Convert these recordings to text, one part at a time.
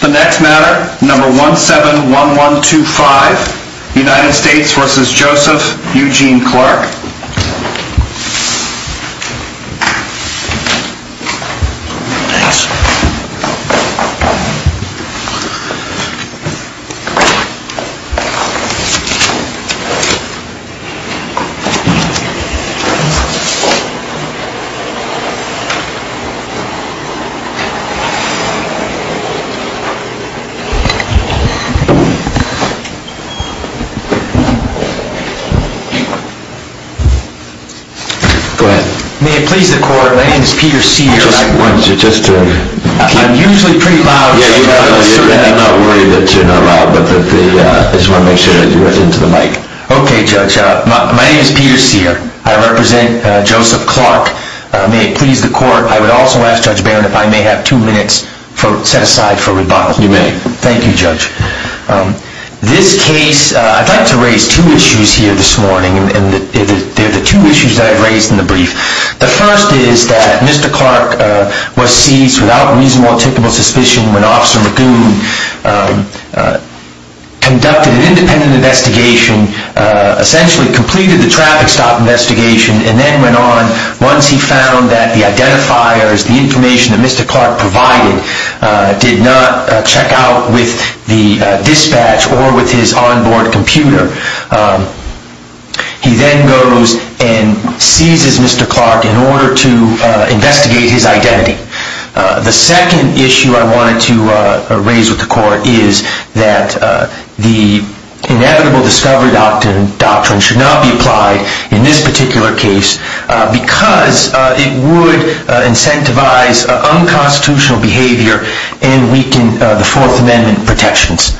The next matter, number 171125, United States v. Joseph Eugene Clark. Thanks. May it please the court, my name is Peter Sear, I represent Joseph Clark. May it please the court, I would also ask Judge Barron if I may have two minutes set aside for rebuttal. You may. Thank you, Judge. This case, I'd like to raise two issues here this morning, and they're the two issues that I've raised in the brief. The first is that Mr. Clark was seized without reasonable or typical suspicion when Officer Magoon conducted an independent investigation, essentially completed the traffic stop investigation, and then went on, once he found that the identifiers, the information that Mr. Clark provided, did not check out with the dispatch or with his onboard computer, he then goes and seizes Mr. Clark in order to investigate his identity. The second issue I wanted to raise with the court is that the inevitable discovery doctrine should not be applied in this particular case because it would incentivize unconstitutional behavior and weaken the Fourth Amendment protections.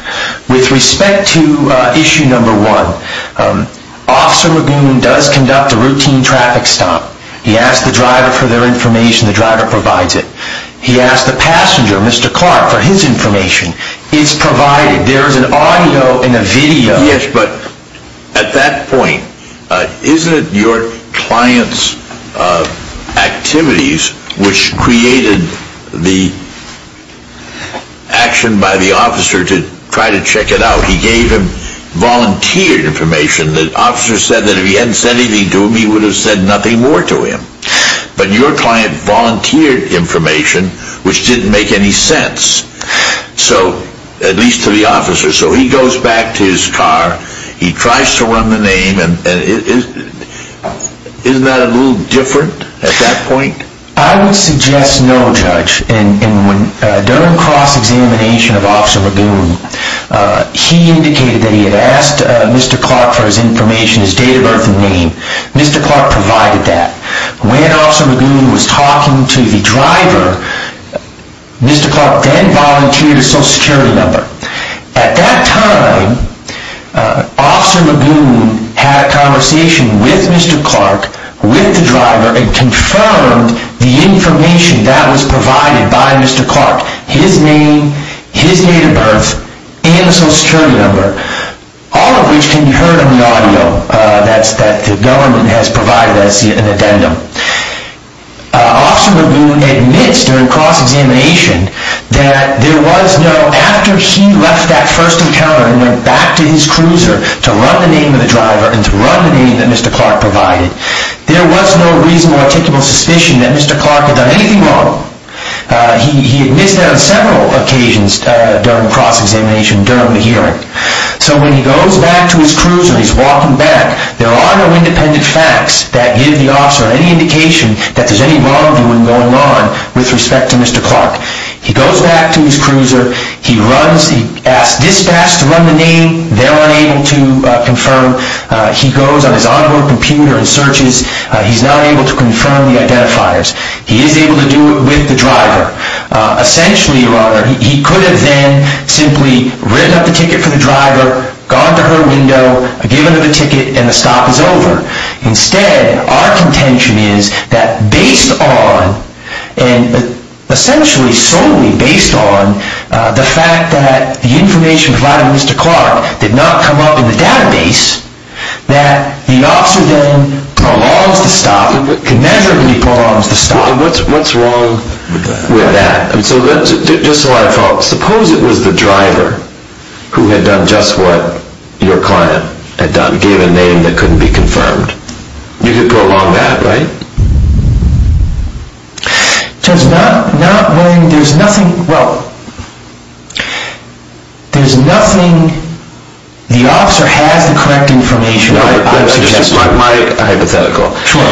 With respect to issue number one, Officer Magoon does conduct a routine traffic stop. He asks the driver for their information, the driver provides it. He asks the passenger, Mr. Clark, for his information. It's provided. There is an audio and a video. Yes, but at that point, isn't it your client's activities which created the action by the officer to try to check it out? He gave him volunteered information. The officer said that if he hadn't said anything to him, he would have said nothing more to him. But your client volunteered information which didn't make any sense, at least to the officer. So he goes back to his car. He tries to run the name. Isn't that a little different at that point? I would suggest no, Judge. During cross-examination of Officer Magoon, he indicated that he had asked Mr. Clark for his information, his date of birth and name. Mr. Clark provided that. When Officer Magoon was talking to the driver, Mr. Clark then volunteered a social security number. At that time, Officer Magoon had a conversation with Mr. Clark, with the driver, and confirmed the information that was provided by Mr. Clark, his name, his date of birth and the social security number, all of which can be heard in the audio that the government has provided as an addendum. Officer Magoon admits during cross-examination that there was no, after he left that first encounter and went back to his cruiser to run the name of the driver and to run the name that Mr. Clark provided, there was no reasonable, articulable suspicion that Mr. Clark had done anything wrong. He admits that on several occasions during cross-examination during the hearing. So when he goes back to his cruiser, he's walking back. There are no independent facts that give the officer any indication that there's any wrongdoing going on with respect to Mr. Clark. He goes back to his cruiser. He runs. He asks dispatch to run the name. They're unable to confirm. He goes on his onboard computer and searches. He's not able to confirm the identifiers. He is able to do it with the driver. Essentially, he could have then simply written up the ticket for the driver, gone to her window, given her the ticket, and the stop is over. Instead, our contention is that based on, and essentially solely based on, the fact that the information provided to Mr. Clark did not come up in the database, that the officer then prolongs the stop, conmeasurably prolongs the stop. What's wrong with that? Just so I follow, suppose it was the driver who had done just what your client had done, gave a name that couldn't be confirmed. You could prolong that, right? Judge, not when there's nothing, well, there's nothing. The officer has the correct information. That's just my hypothetical. Sure.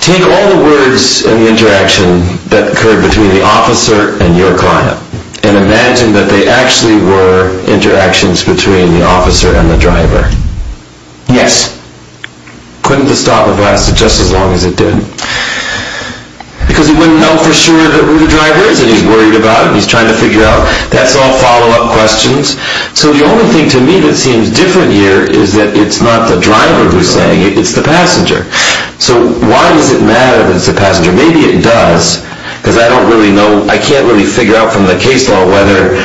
Take all the words in the interaction that occurred between the officer and your client and imagine that they actually were interactions between the officer and the driver. Yes. Couldn't the stop have lasted just as long as it did? Because he wouldn't know for sure who the driver is that he's worried about. He's trying to figure out. That's all follow-up questions. So the only thing to me that seems different here is that it's not the driver who's saying it, it's the passenger. So why does it matter if it's the passenger? Maybe it does because I can't really figure out from the case law whether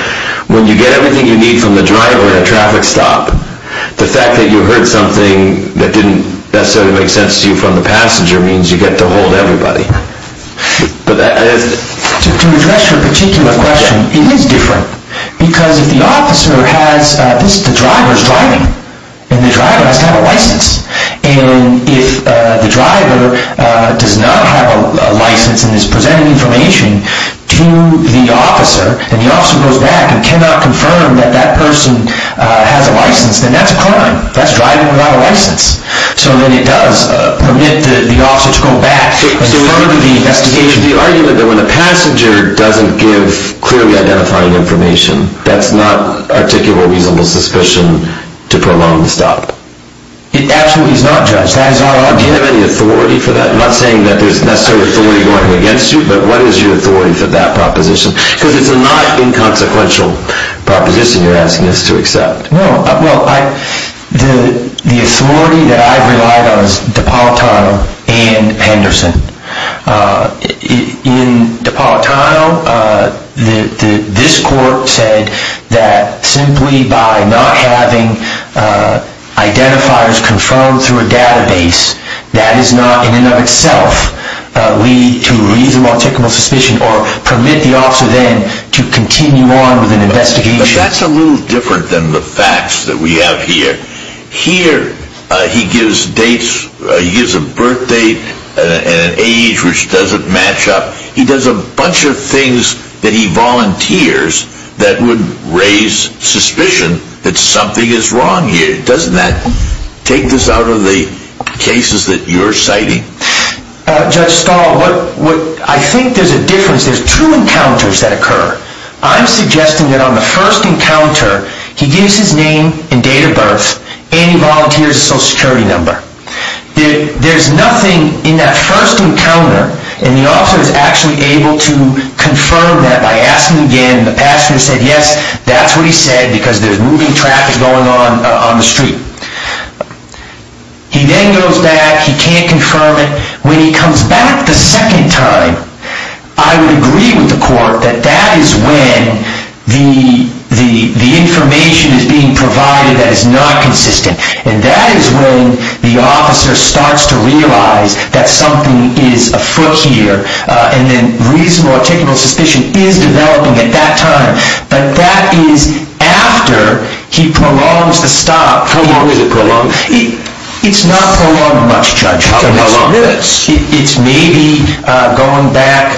when you get everything you need from the driver at a traffic stop, the fact that you heard something that didn't necessarily make sense to you from the passenger means you get to hold everybody. To address your particular question, it is different because if the officer has this, the driver is driving, and the driver has to have a license. And if the driver does not have a license and is presenting information to the officer and the officer goes back and cannot confirm that that person has a license, then that's a crime. That's driving without a license. So then it does permit the officer to go back and further the investigation. Could you argue that when a passenger doesn't give clearly identifying information, that's not articulable reasonable suspicion to prolong the stop? It absolutely is not, Judge. That is our argument. Do you have any authority for that? I'm not saying that there's necessarily authority going against you, but what is your authority for that proposition? Because it's a not inconsequential proposition you're asking us to accept. The authority that I've relied on is DePaul Tile and Henderson. In DePaul Tile, this court said that simply by not having identifiers confirmed through a database, that is not in and of itself to lead to reasonable articulable suspicion or permit the officer then to continue on with an investigation. But that's a little different than the facts that we have here. Here, he gives dates. He gives a birth date and an age which doesn't match up. He does a bunch of things that he volunteers that would raise suspicion that something is wrong here. Doesn't that take this out of the cases that you're citing? Judge Stahl, I think there's a difference. There's two encounters that occur. I'm suggesting that on the first encounter, he gives his name and date of birth and he volunteers a Social Security number. There's nothing in that first encounter, and the officer is actually able to confirm that by asking again. The passenger said, yes, that's what he said because there's moving traffic going on on the street. He then goes back. He can't confirm it. When he comes back the second time, I would agree with the court that that is when the information is being provided that is not consistent, and that is when the officer starts to realize that something is afoot here and then reasonable articulable suspicion is developing at that time. But that is after he prolongs the stop. How long is it prolonged? It's not prolonged much, Judge. How long is minutes? It's maybe, going back,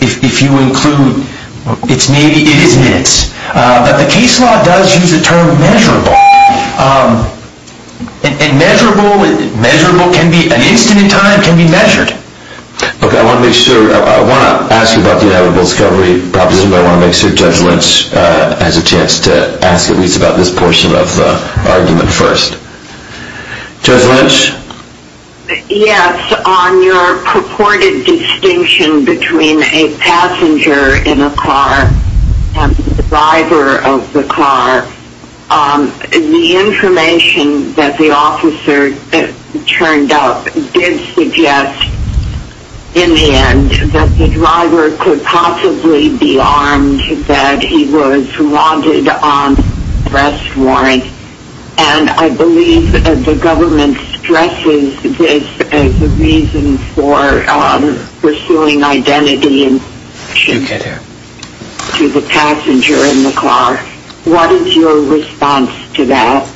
if you include, it's maybe, it is minutes. But the case law does use the term measurable. And measurable, measurable can be, an instant in time can be measured. Okay, I want to make sure, I want to ask about the inevitable discovery proposition, but I want to make sure Judge Lynch has a chance to ask at least about this portion of the argument first. Judge Lynch? Yes, on your purported distinction between a passenger in a car and the driver of the car, the information that the officer turned up did suggest in the end that the driver could possibly be armed, and that he was wanted on arrest warrant. And I believe the government stresses this as a reason for pursuing identity to the passenger in the car. What is your response to that?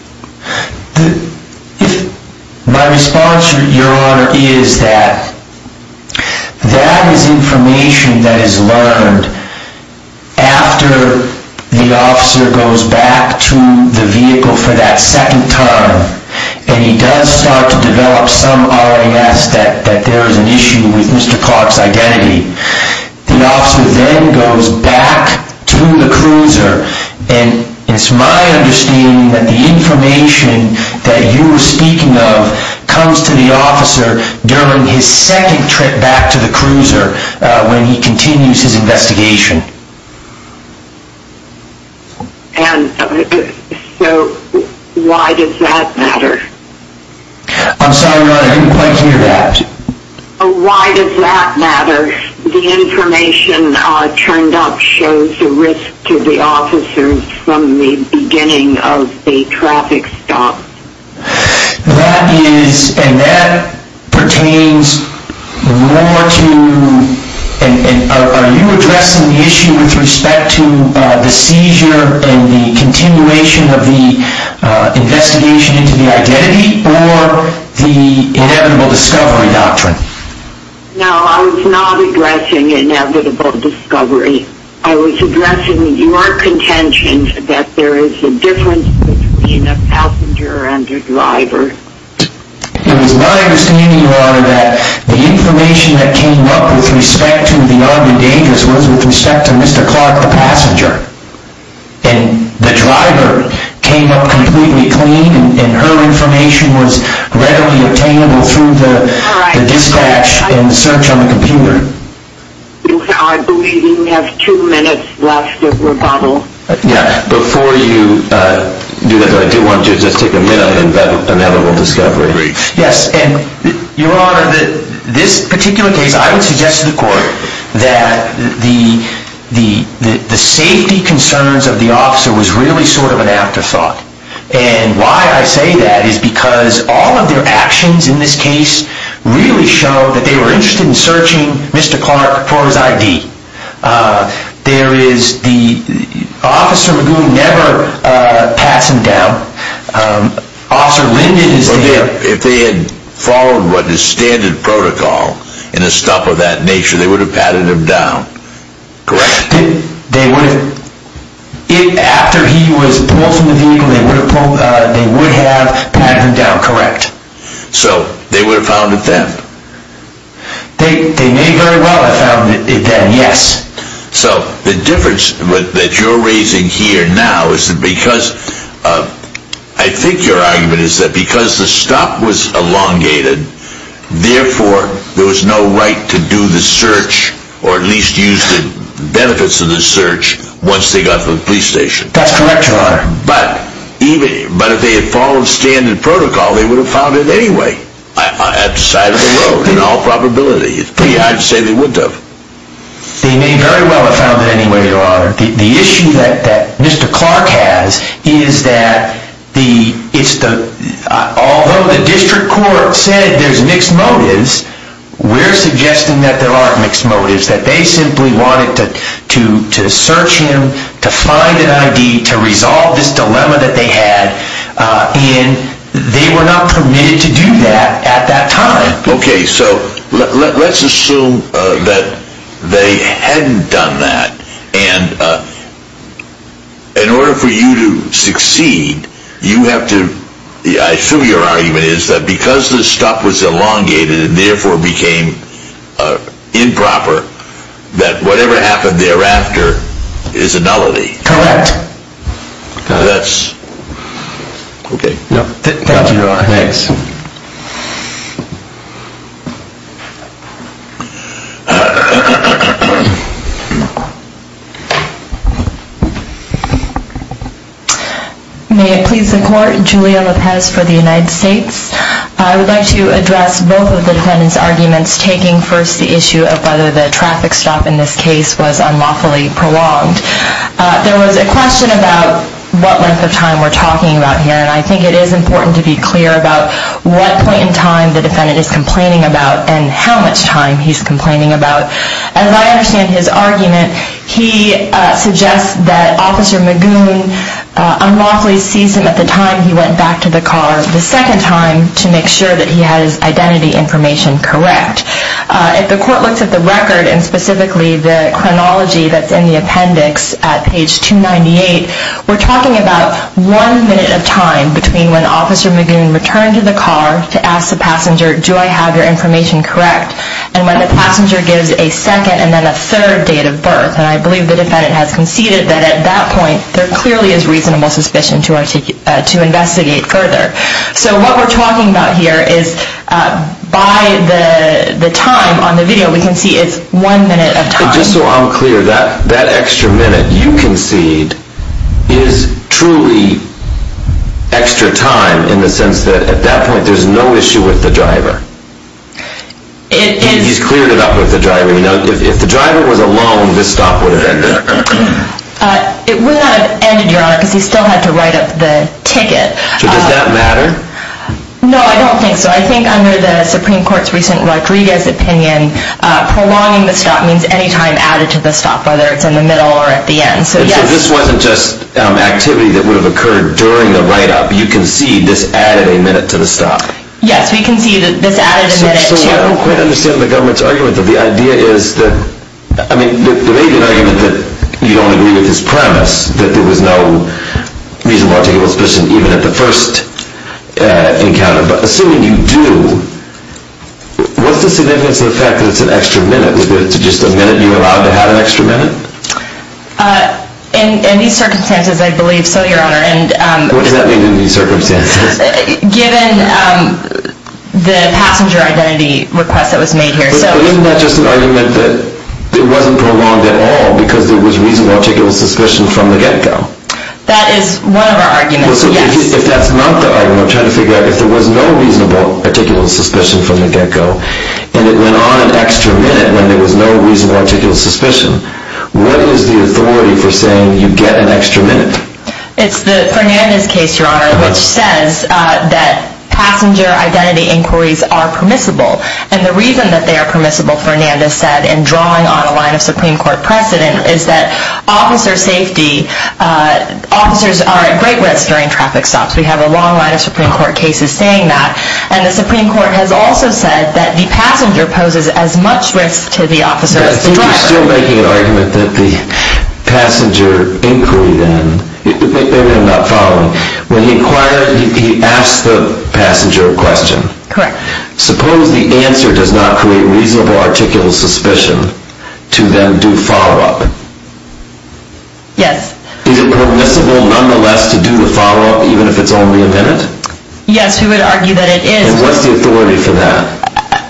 My response, Your Honor, is that that is information that is learned after the officer goes back to the vehicle for that second time, and he does start to develop some RAS that there is an issue with Mr. Clark's identity. The officer then goes back to the cruiser, and it's my understanding that the information that you were speaking of comes to the officer during his second trip back to the cruiser when he continues his investigation. And so why does that matter? I'm sorry, Your Honor, I didn't quite hear that. Why does that matter? The information turned up shows the risk to the officers from the beginning of the traffic stop. That is, and that pertains more to, are you addressing the issue with respect to the seizure and the continuation of the investigation into the identity, or the inevitable discovery doctrine? No, I was not addressing inevitable discovery. I was addressing your contention that there is a difference between a passenger and a driver. It was my understanding, Your Honor, that the information that came up with respect to the armed endangers was with respect to Mr. Clark, the passenger. And the driver came up completely clean, and her information was readily obtainable through the dispatch and search on the computer. I believe we have two minutes left, Your Honor. Yeah, before you do that, I do want to just take a minute on that inevitable discovery. Yes, and Your Honor, this particular case, I would suggest to the Court that the safety concerns of the officer was really sort of an afterthought. And why I say that is because all of their actions in this case really showed that they were interested in searching Mr. Clark for his ID. The officer would never pass him down. Officer Linden is there. If they had followed what is standard protocol in a stop of that nature, they would have patted him down, correct? They would have. After he was pulled from the vehicle, they would have patted him down, correct. So, they would have found a theft? They may very well have found a theft, yes. So, the difference that you're raising here now is that because, I think your argument is that because the stop was elongated, therefore, there was no right to do the search, or at least use the benefits of the search, once they got to the police station. That's correct, Your Honor. But if they had followed standard protocol, they would have found it anyway, at the side of the road, in all probability. It's pretty hard to say they wouldn't have. They may very well have found it anyway, Your Honor. The issue that Mr. Clark has is that although the district court said there's mixed motives, we're suggesting that there aren't mixed motives, that they simply wanted to search him, to find an ID, to resolve this dilemma that they had, and they were not permitted to do that at that time. Okay, so let's assume that they hadn't done that, and in order for you to succeed, you have to, I assume your argument is that because the stop was elongated, and therefore became improper, that whatever happened thereafter is a nullity. Correct. That's, okay. Thank you, Your Honor. Thanks. May it please the Court, Julia Lopez for the United States. I would like to address both of the defendant's arguments, taking first the issue of whether the traffic stop in this case was unlawfully prolonged. There was a question about what length of time we're talking about here, and I think it is important to be clear about what point in time the defendant is complaining about, and how much time he's complaining about. As I understand his argument, he suggests that Officer Magoon unlawfully seized him at the time he went back to the car the second time to make sure that he had his identity information correct. If the Court looks at the record, and specifically the chronology that's in the appendix at page 298, we're talking about one minute of time between when Officer Magoon returned to the car to ask the passenger, do I have your information correct, and when the passenger gives a second and then a third date of birth. And I believe the defendant has conceded that at that point, there clearly is reasonable suspicion to investigate further. So what we're talking about here is by the time on the video, we can see it's one minute of time. Just so I'm clear, that extra minute you concede is truly extra time, in the sense that at that point there's no issue with the driver. He's cleared it up with the driver. If the driver was alone, this stop would have ended. It would not have ended, Your Honor, because he still had to write up the ticket. So does that matter? No, I don't think so. I think under the Supreme Court's recent Rodriguez opinion, prolonging the stop means any time added to the stop, whether it's in the middle or at the end. So this wasn't just activity that would have occurred during the write-up. You concede this added a minute to the stop. Yes, we concede that this added a minute to the stop. So I don't quite understand the government's argument. The idea is that, I mean, there may be an argument that you don't agree with his premise, that there was no reasonable articulation of suspicion even at the first encounter. But assuming you do, what's the significance of the fact that it's an extra minute? Is it just a minute you allowed to have an extra minute? In these circumstances, I believe so, Your Honor. What does that mean in these circumstances? Given the passenger identity request that was made here. But isn't that just an argument that it wasn't prolonged at all because there was reasonable articulation of suspicion from the get-go? That is one of our arguments, yes. If that's not the argument, I'm trying to figure out, if there was no reasonable articulation of suspicion from the get-go, and it went on an extra minute when there was no reasonable articulation of suspicion, what is the authority for saying you get an extra minute? It's the Fernandez case, Your Honor, which says that passenger identity inquiries are permissible. And the reason that they are permissible, Fernandez said, in drawing on a line of Supreme Court precedent, is that officer safety, officers are at great risk during traffic stops. We have a long line of Supreme Court cases saying that. And the Supreme Court has also said that the passenger poses as much risk to the officer as the driver. I'm still making an argument that the passenger inquiry then, maybe I'm not following, when he inquired, he asked the passenger a question. Correct. Suppose the answer does not create reasonable articulation of suspicion to then do follow-up. Yes. Is it permissible, nonetheless, to do the follow-up even if it's only a minute? Yes, we would argue that it is. And what's the authority for that?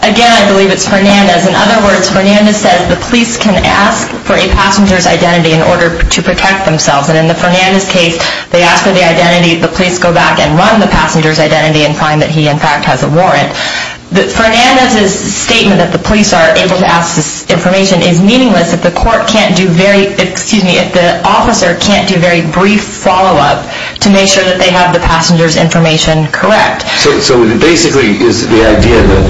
Again, I believe it's Fernandez. In other words, Fernandez says the police can ask for a passenger's identity in order to protect themselves. And in the Fernandez case, they ask for the identity, the police go back and run the passenger's identity and find that he, in fact, has a warrant. Fernandez's statement that the police are able to ask this information is meaningless if the court can't do very, excuse me, if the officer can't do very brief follow-up to make sure that they have the passenger's information correct. So basically, is the idea that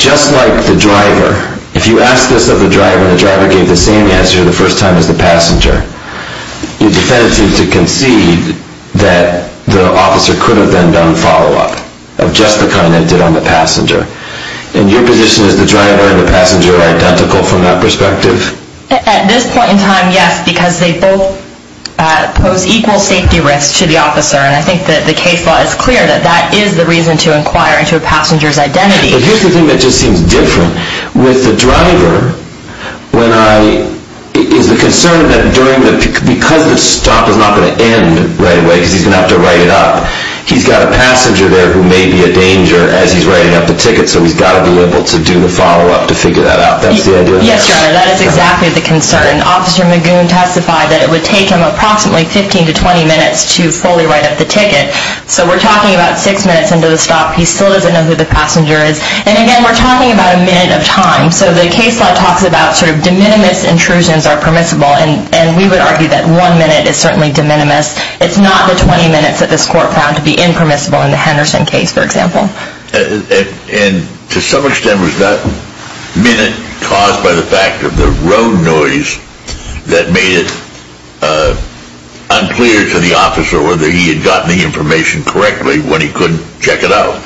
just like the driver, if you ask this of the driver and the driver gave the same answer the first time as the passenger, your defense seems to concede that the officer could have then done follow-up of just the kind they did on the passenger. And your position is the driver and the passenger are identical from that perspective? At this point in time, yes, because they both pose equal safety risks to the officer. And I think that the case law is clear that that is the reason to inquire into a passenger's identity. But here's the thing that just seems different. With the driver, when I, is the concern that during the, because the stop is not going to end right away because he's going to have to write it up, he's got a passenger there who may be a danger as he's writing up the ticket, so he's got to be able to do the follow-up to figure that out. That's the idea? Yes, your honor, that is exactly the concern. Officer Magoon testified that it would take him approximately 15 to 20 minutes to fully write up the ticket. So we're talking about six minutes into the stop. He still doesn't know who the passenger is. And again, we're talking about a minute of time. So the case law talks about sort of de minimis intrusions are permissible, and we would argue that one minute is certainly de minimis. It's not the 20 minutes that this court found to be impermissible in the Henderson case, for example. And to some extent, was that minute caused by the fact of the road noise that made it unclear to the officer whether he had gotten the information correctly when he couldn't check it out?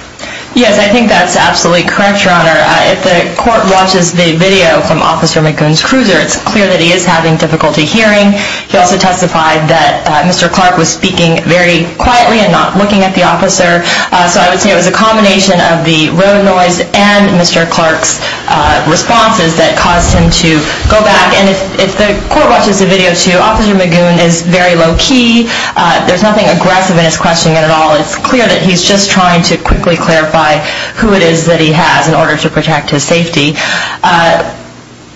Yes, I think that's absolutely correct, your honor. If the court watches the video from Officer Magoon's cruiser, it's clear that he is having difficulty hearing. He also testified that Mr. Clark was speaking very quietly and not looking at the officer. So I would say it was a combination of the road noise and Mr. Clark's responses that caused him to go back. And if the court watches the video, too, Officer Magoon is very low-key. There's nothing aggressive in his questioning at all. It's clear that he's just trying to quickly clarify who it is that he has in order to protect his safety.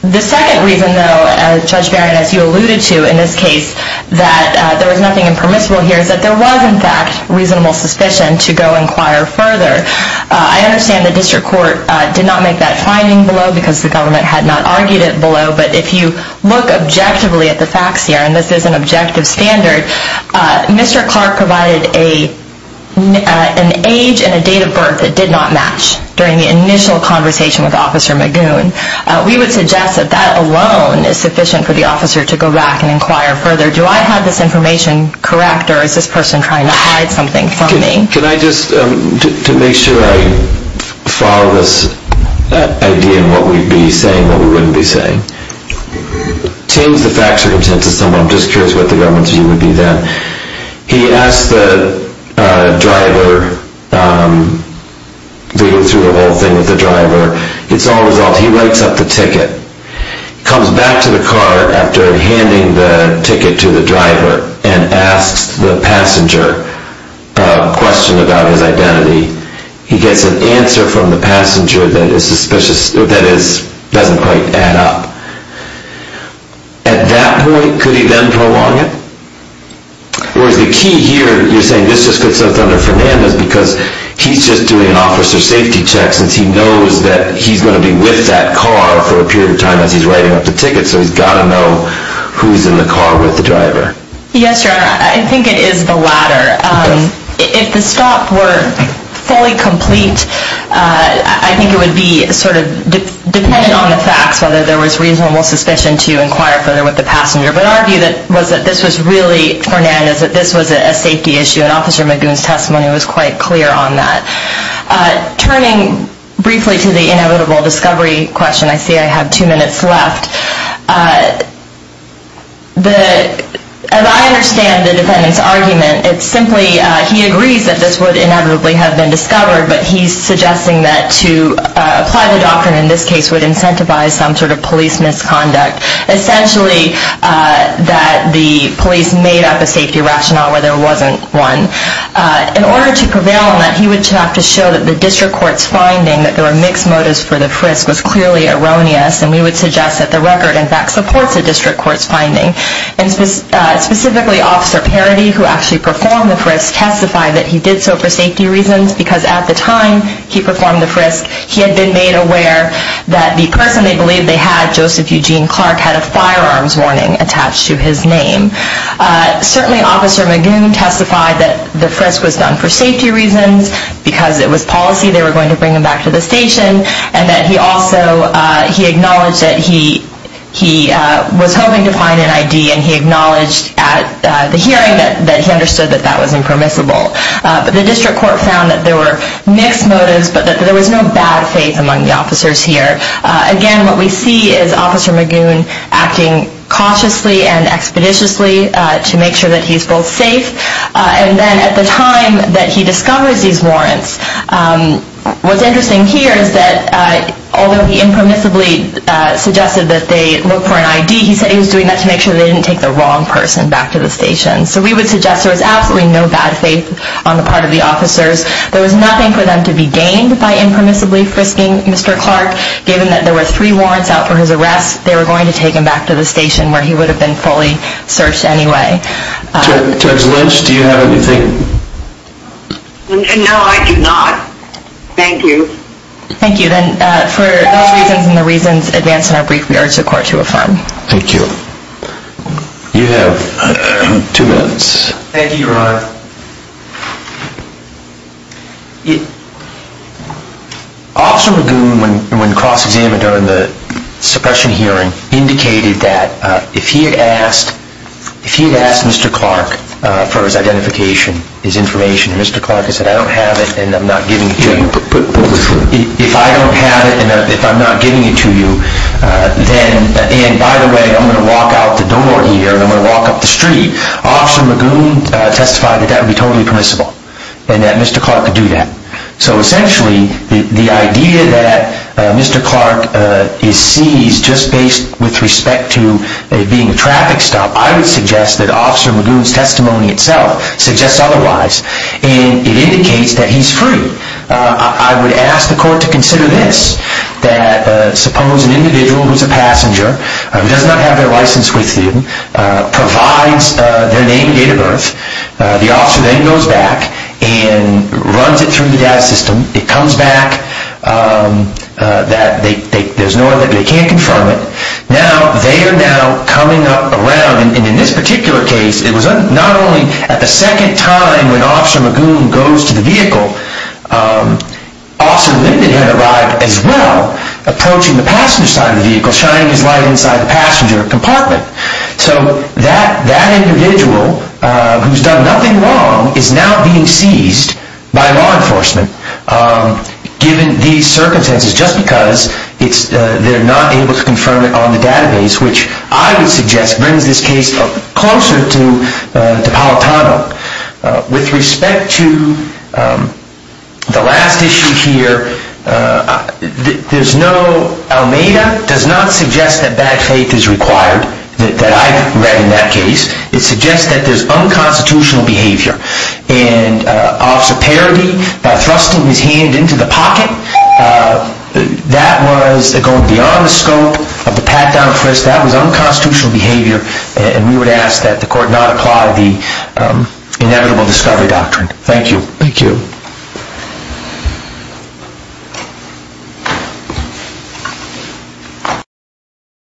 The second reason, though, Judge Barrett, as you alluded to in this case, that there was nothing impermissible here is that there was, in fact, reasonable suspicion to go inquire further. I understand the district court did not make that finding below because the government had not argued it below. But if you look objectively at the facts here, and this is an objective standard, Mr. Clark provided an age and a date of birth that did not match during the initial conversation with Officer Magoon. We would suggest that that alone is sufficient for the officer to go back and inquire further. Do I have this information correct, or is this person trying to hide something from me? Can I just, to make sure I follow this idea and what we'd be saying, what we wouldn't be saying, change the fact circumstance to someone, I'm just curious what the government's view would be then. He asked the driver, reading through the whole thing with the driver, it's all resolved, he writes up the ticket, comes back to the car after handing the ticket to the driver, and asks the passenger a question about his identity. He gets an answer from the passenger that is suspicious, that doesn't quite add up. At that point, could he then prolong it? Whereas the key here, you're saying this just fits under Fernandez because he's just doing an officer safety check since he knows that he's going to be with that car for a period of time as he's writing up the ticket, so he's got to know who's in the car with the driver. Yes, Your Honor, I think it is the latter. If the stop were fully complete, I think it would be sort of dependent on the facts, whether there was reasonable suspicion to inquire further with the passenger. But our view was that this was really Fernandez, that this was a safety issue, and Officer Magoon's testimony was quite clear on that. Turning briefly to the inevitable discovery question, I see I have two minutes left. As I understand the defendant's argument, it's simply he agrees that this would inevitably have been discovered, but he's suggesting that to apply the doctrine in this case would incentivize some sort of police misconduct. Essentially, that the police made up a safety rationale where there wasn't one. In order to prevail on that, he would have to show that the district court's finding that there were mixed motives for the frisk was clearly erroneous, and we would suggest that the record, in fact, supports the district court's finding. And specifically, Officer Parity, who actually performed the frisk, testified that he did so for safety reasons because at the time he performed the frisk, he had been made aware that the person they believed they had, Joseph Eugene Clark, had a firearms warning attached to his name. Certainly, Officer Magoon testified that the frisk was done for safety reasons, because it was policy they were going to bring him back to the station, and that he also acknowledged that he was hoping to find an ID, and he acknowledged at the hearing that he understood that that was impermissible. But the district court found that there were mixed motives, but that there was no bad faith among the officers here. Again, what we see is Officer Magoon acting cautiously and expeditiously to make sure that he's both safe, and then at the time that he discovers these warrants, what's interesting here is that although he impermissibly suggested that they look for an ID, he said he was doing that to make sure they didn't take the wrong person back to the station. So we would suggest there was absolutely no bad faith on the part of the officers. There was nothing for them to be gained by impermissibly frisking Mr. Clark. Given that there were three warrants out for his arrest, they were going to take him back to the station where he would have been fully searched anyway. Judge Lynch, do you have anything? No, I do not. Thank you. Thank you. Then for those reasons and the reasons advanced in our brief, we urge the court to affirm. Thank you, Your Honor. Officer Magoon, when cross-examined during the suppression hearing, indicated that if he had asked Mr. Clark for his identification, his information, and Mr. Clark had said, I don't have it and I'm not giving it to you, if I don't have it and I'm not giving it to you, and by the way, I'm going to walk out the door here and I'm going to walk up the street, Officer Magoon testified that that would be totally permissible and that Mr. Clark could do that. So essentially, the idea that Mr. Clark is seized, just based with respect to it being a traffic stop, I would suggest that Officer Magoon's testimony itself suggests otherwise and it indicates that he's free. I would ask the court to consider this, that suppose an individual who's a passenger, who does not have their license with him, provides their name and date of birth, the officer then goes back and runs it through the data system, it comes back, there's no other, they can't confirm it. Now, they are now coming up around, and in this particular case, it was not only at the second time when Officer Magoon goes to the vehicle, Officer Linden had arrived as well, approaching the passenger side of the vehicle, shining his light inside the passenger compartment. So that individual, who's done nothing wrong, is now being seized by law enforcement, given these circumstances, just because they're not able to confirm it on the database, which I would suggest brings this case closer to Palatano. With respect to the last issue here, there's no, Almeda does not suggest that bad faith is required, that I've read in that case. It suggests that there's unconstitutional behavior, and Officer Parody, by thrusting his hand into the pocket, that was going beyond the scope of the pat-down frisk, that was unconstitutional behavior, and we would ask that the court not apply the inevitable discovery doctrine. Thank you. Thank you.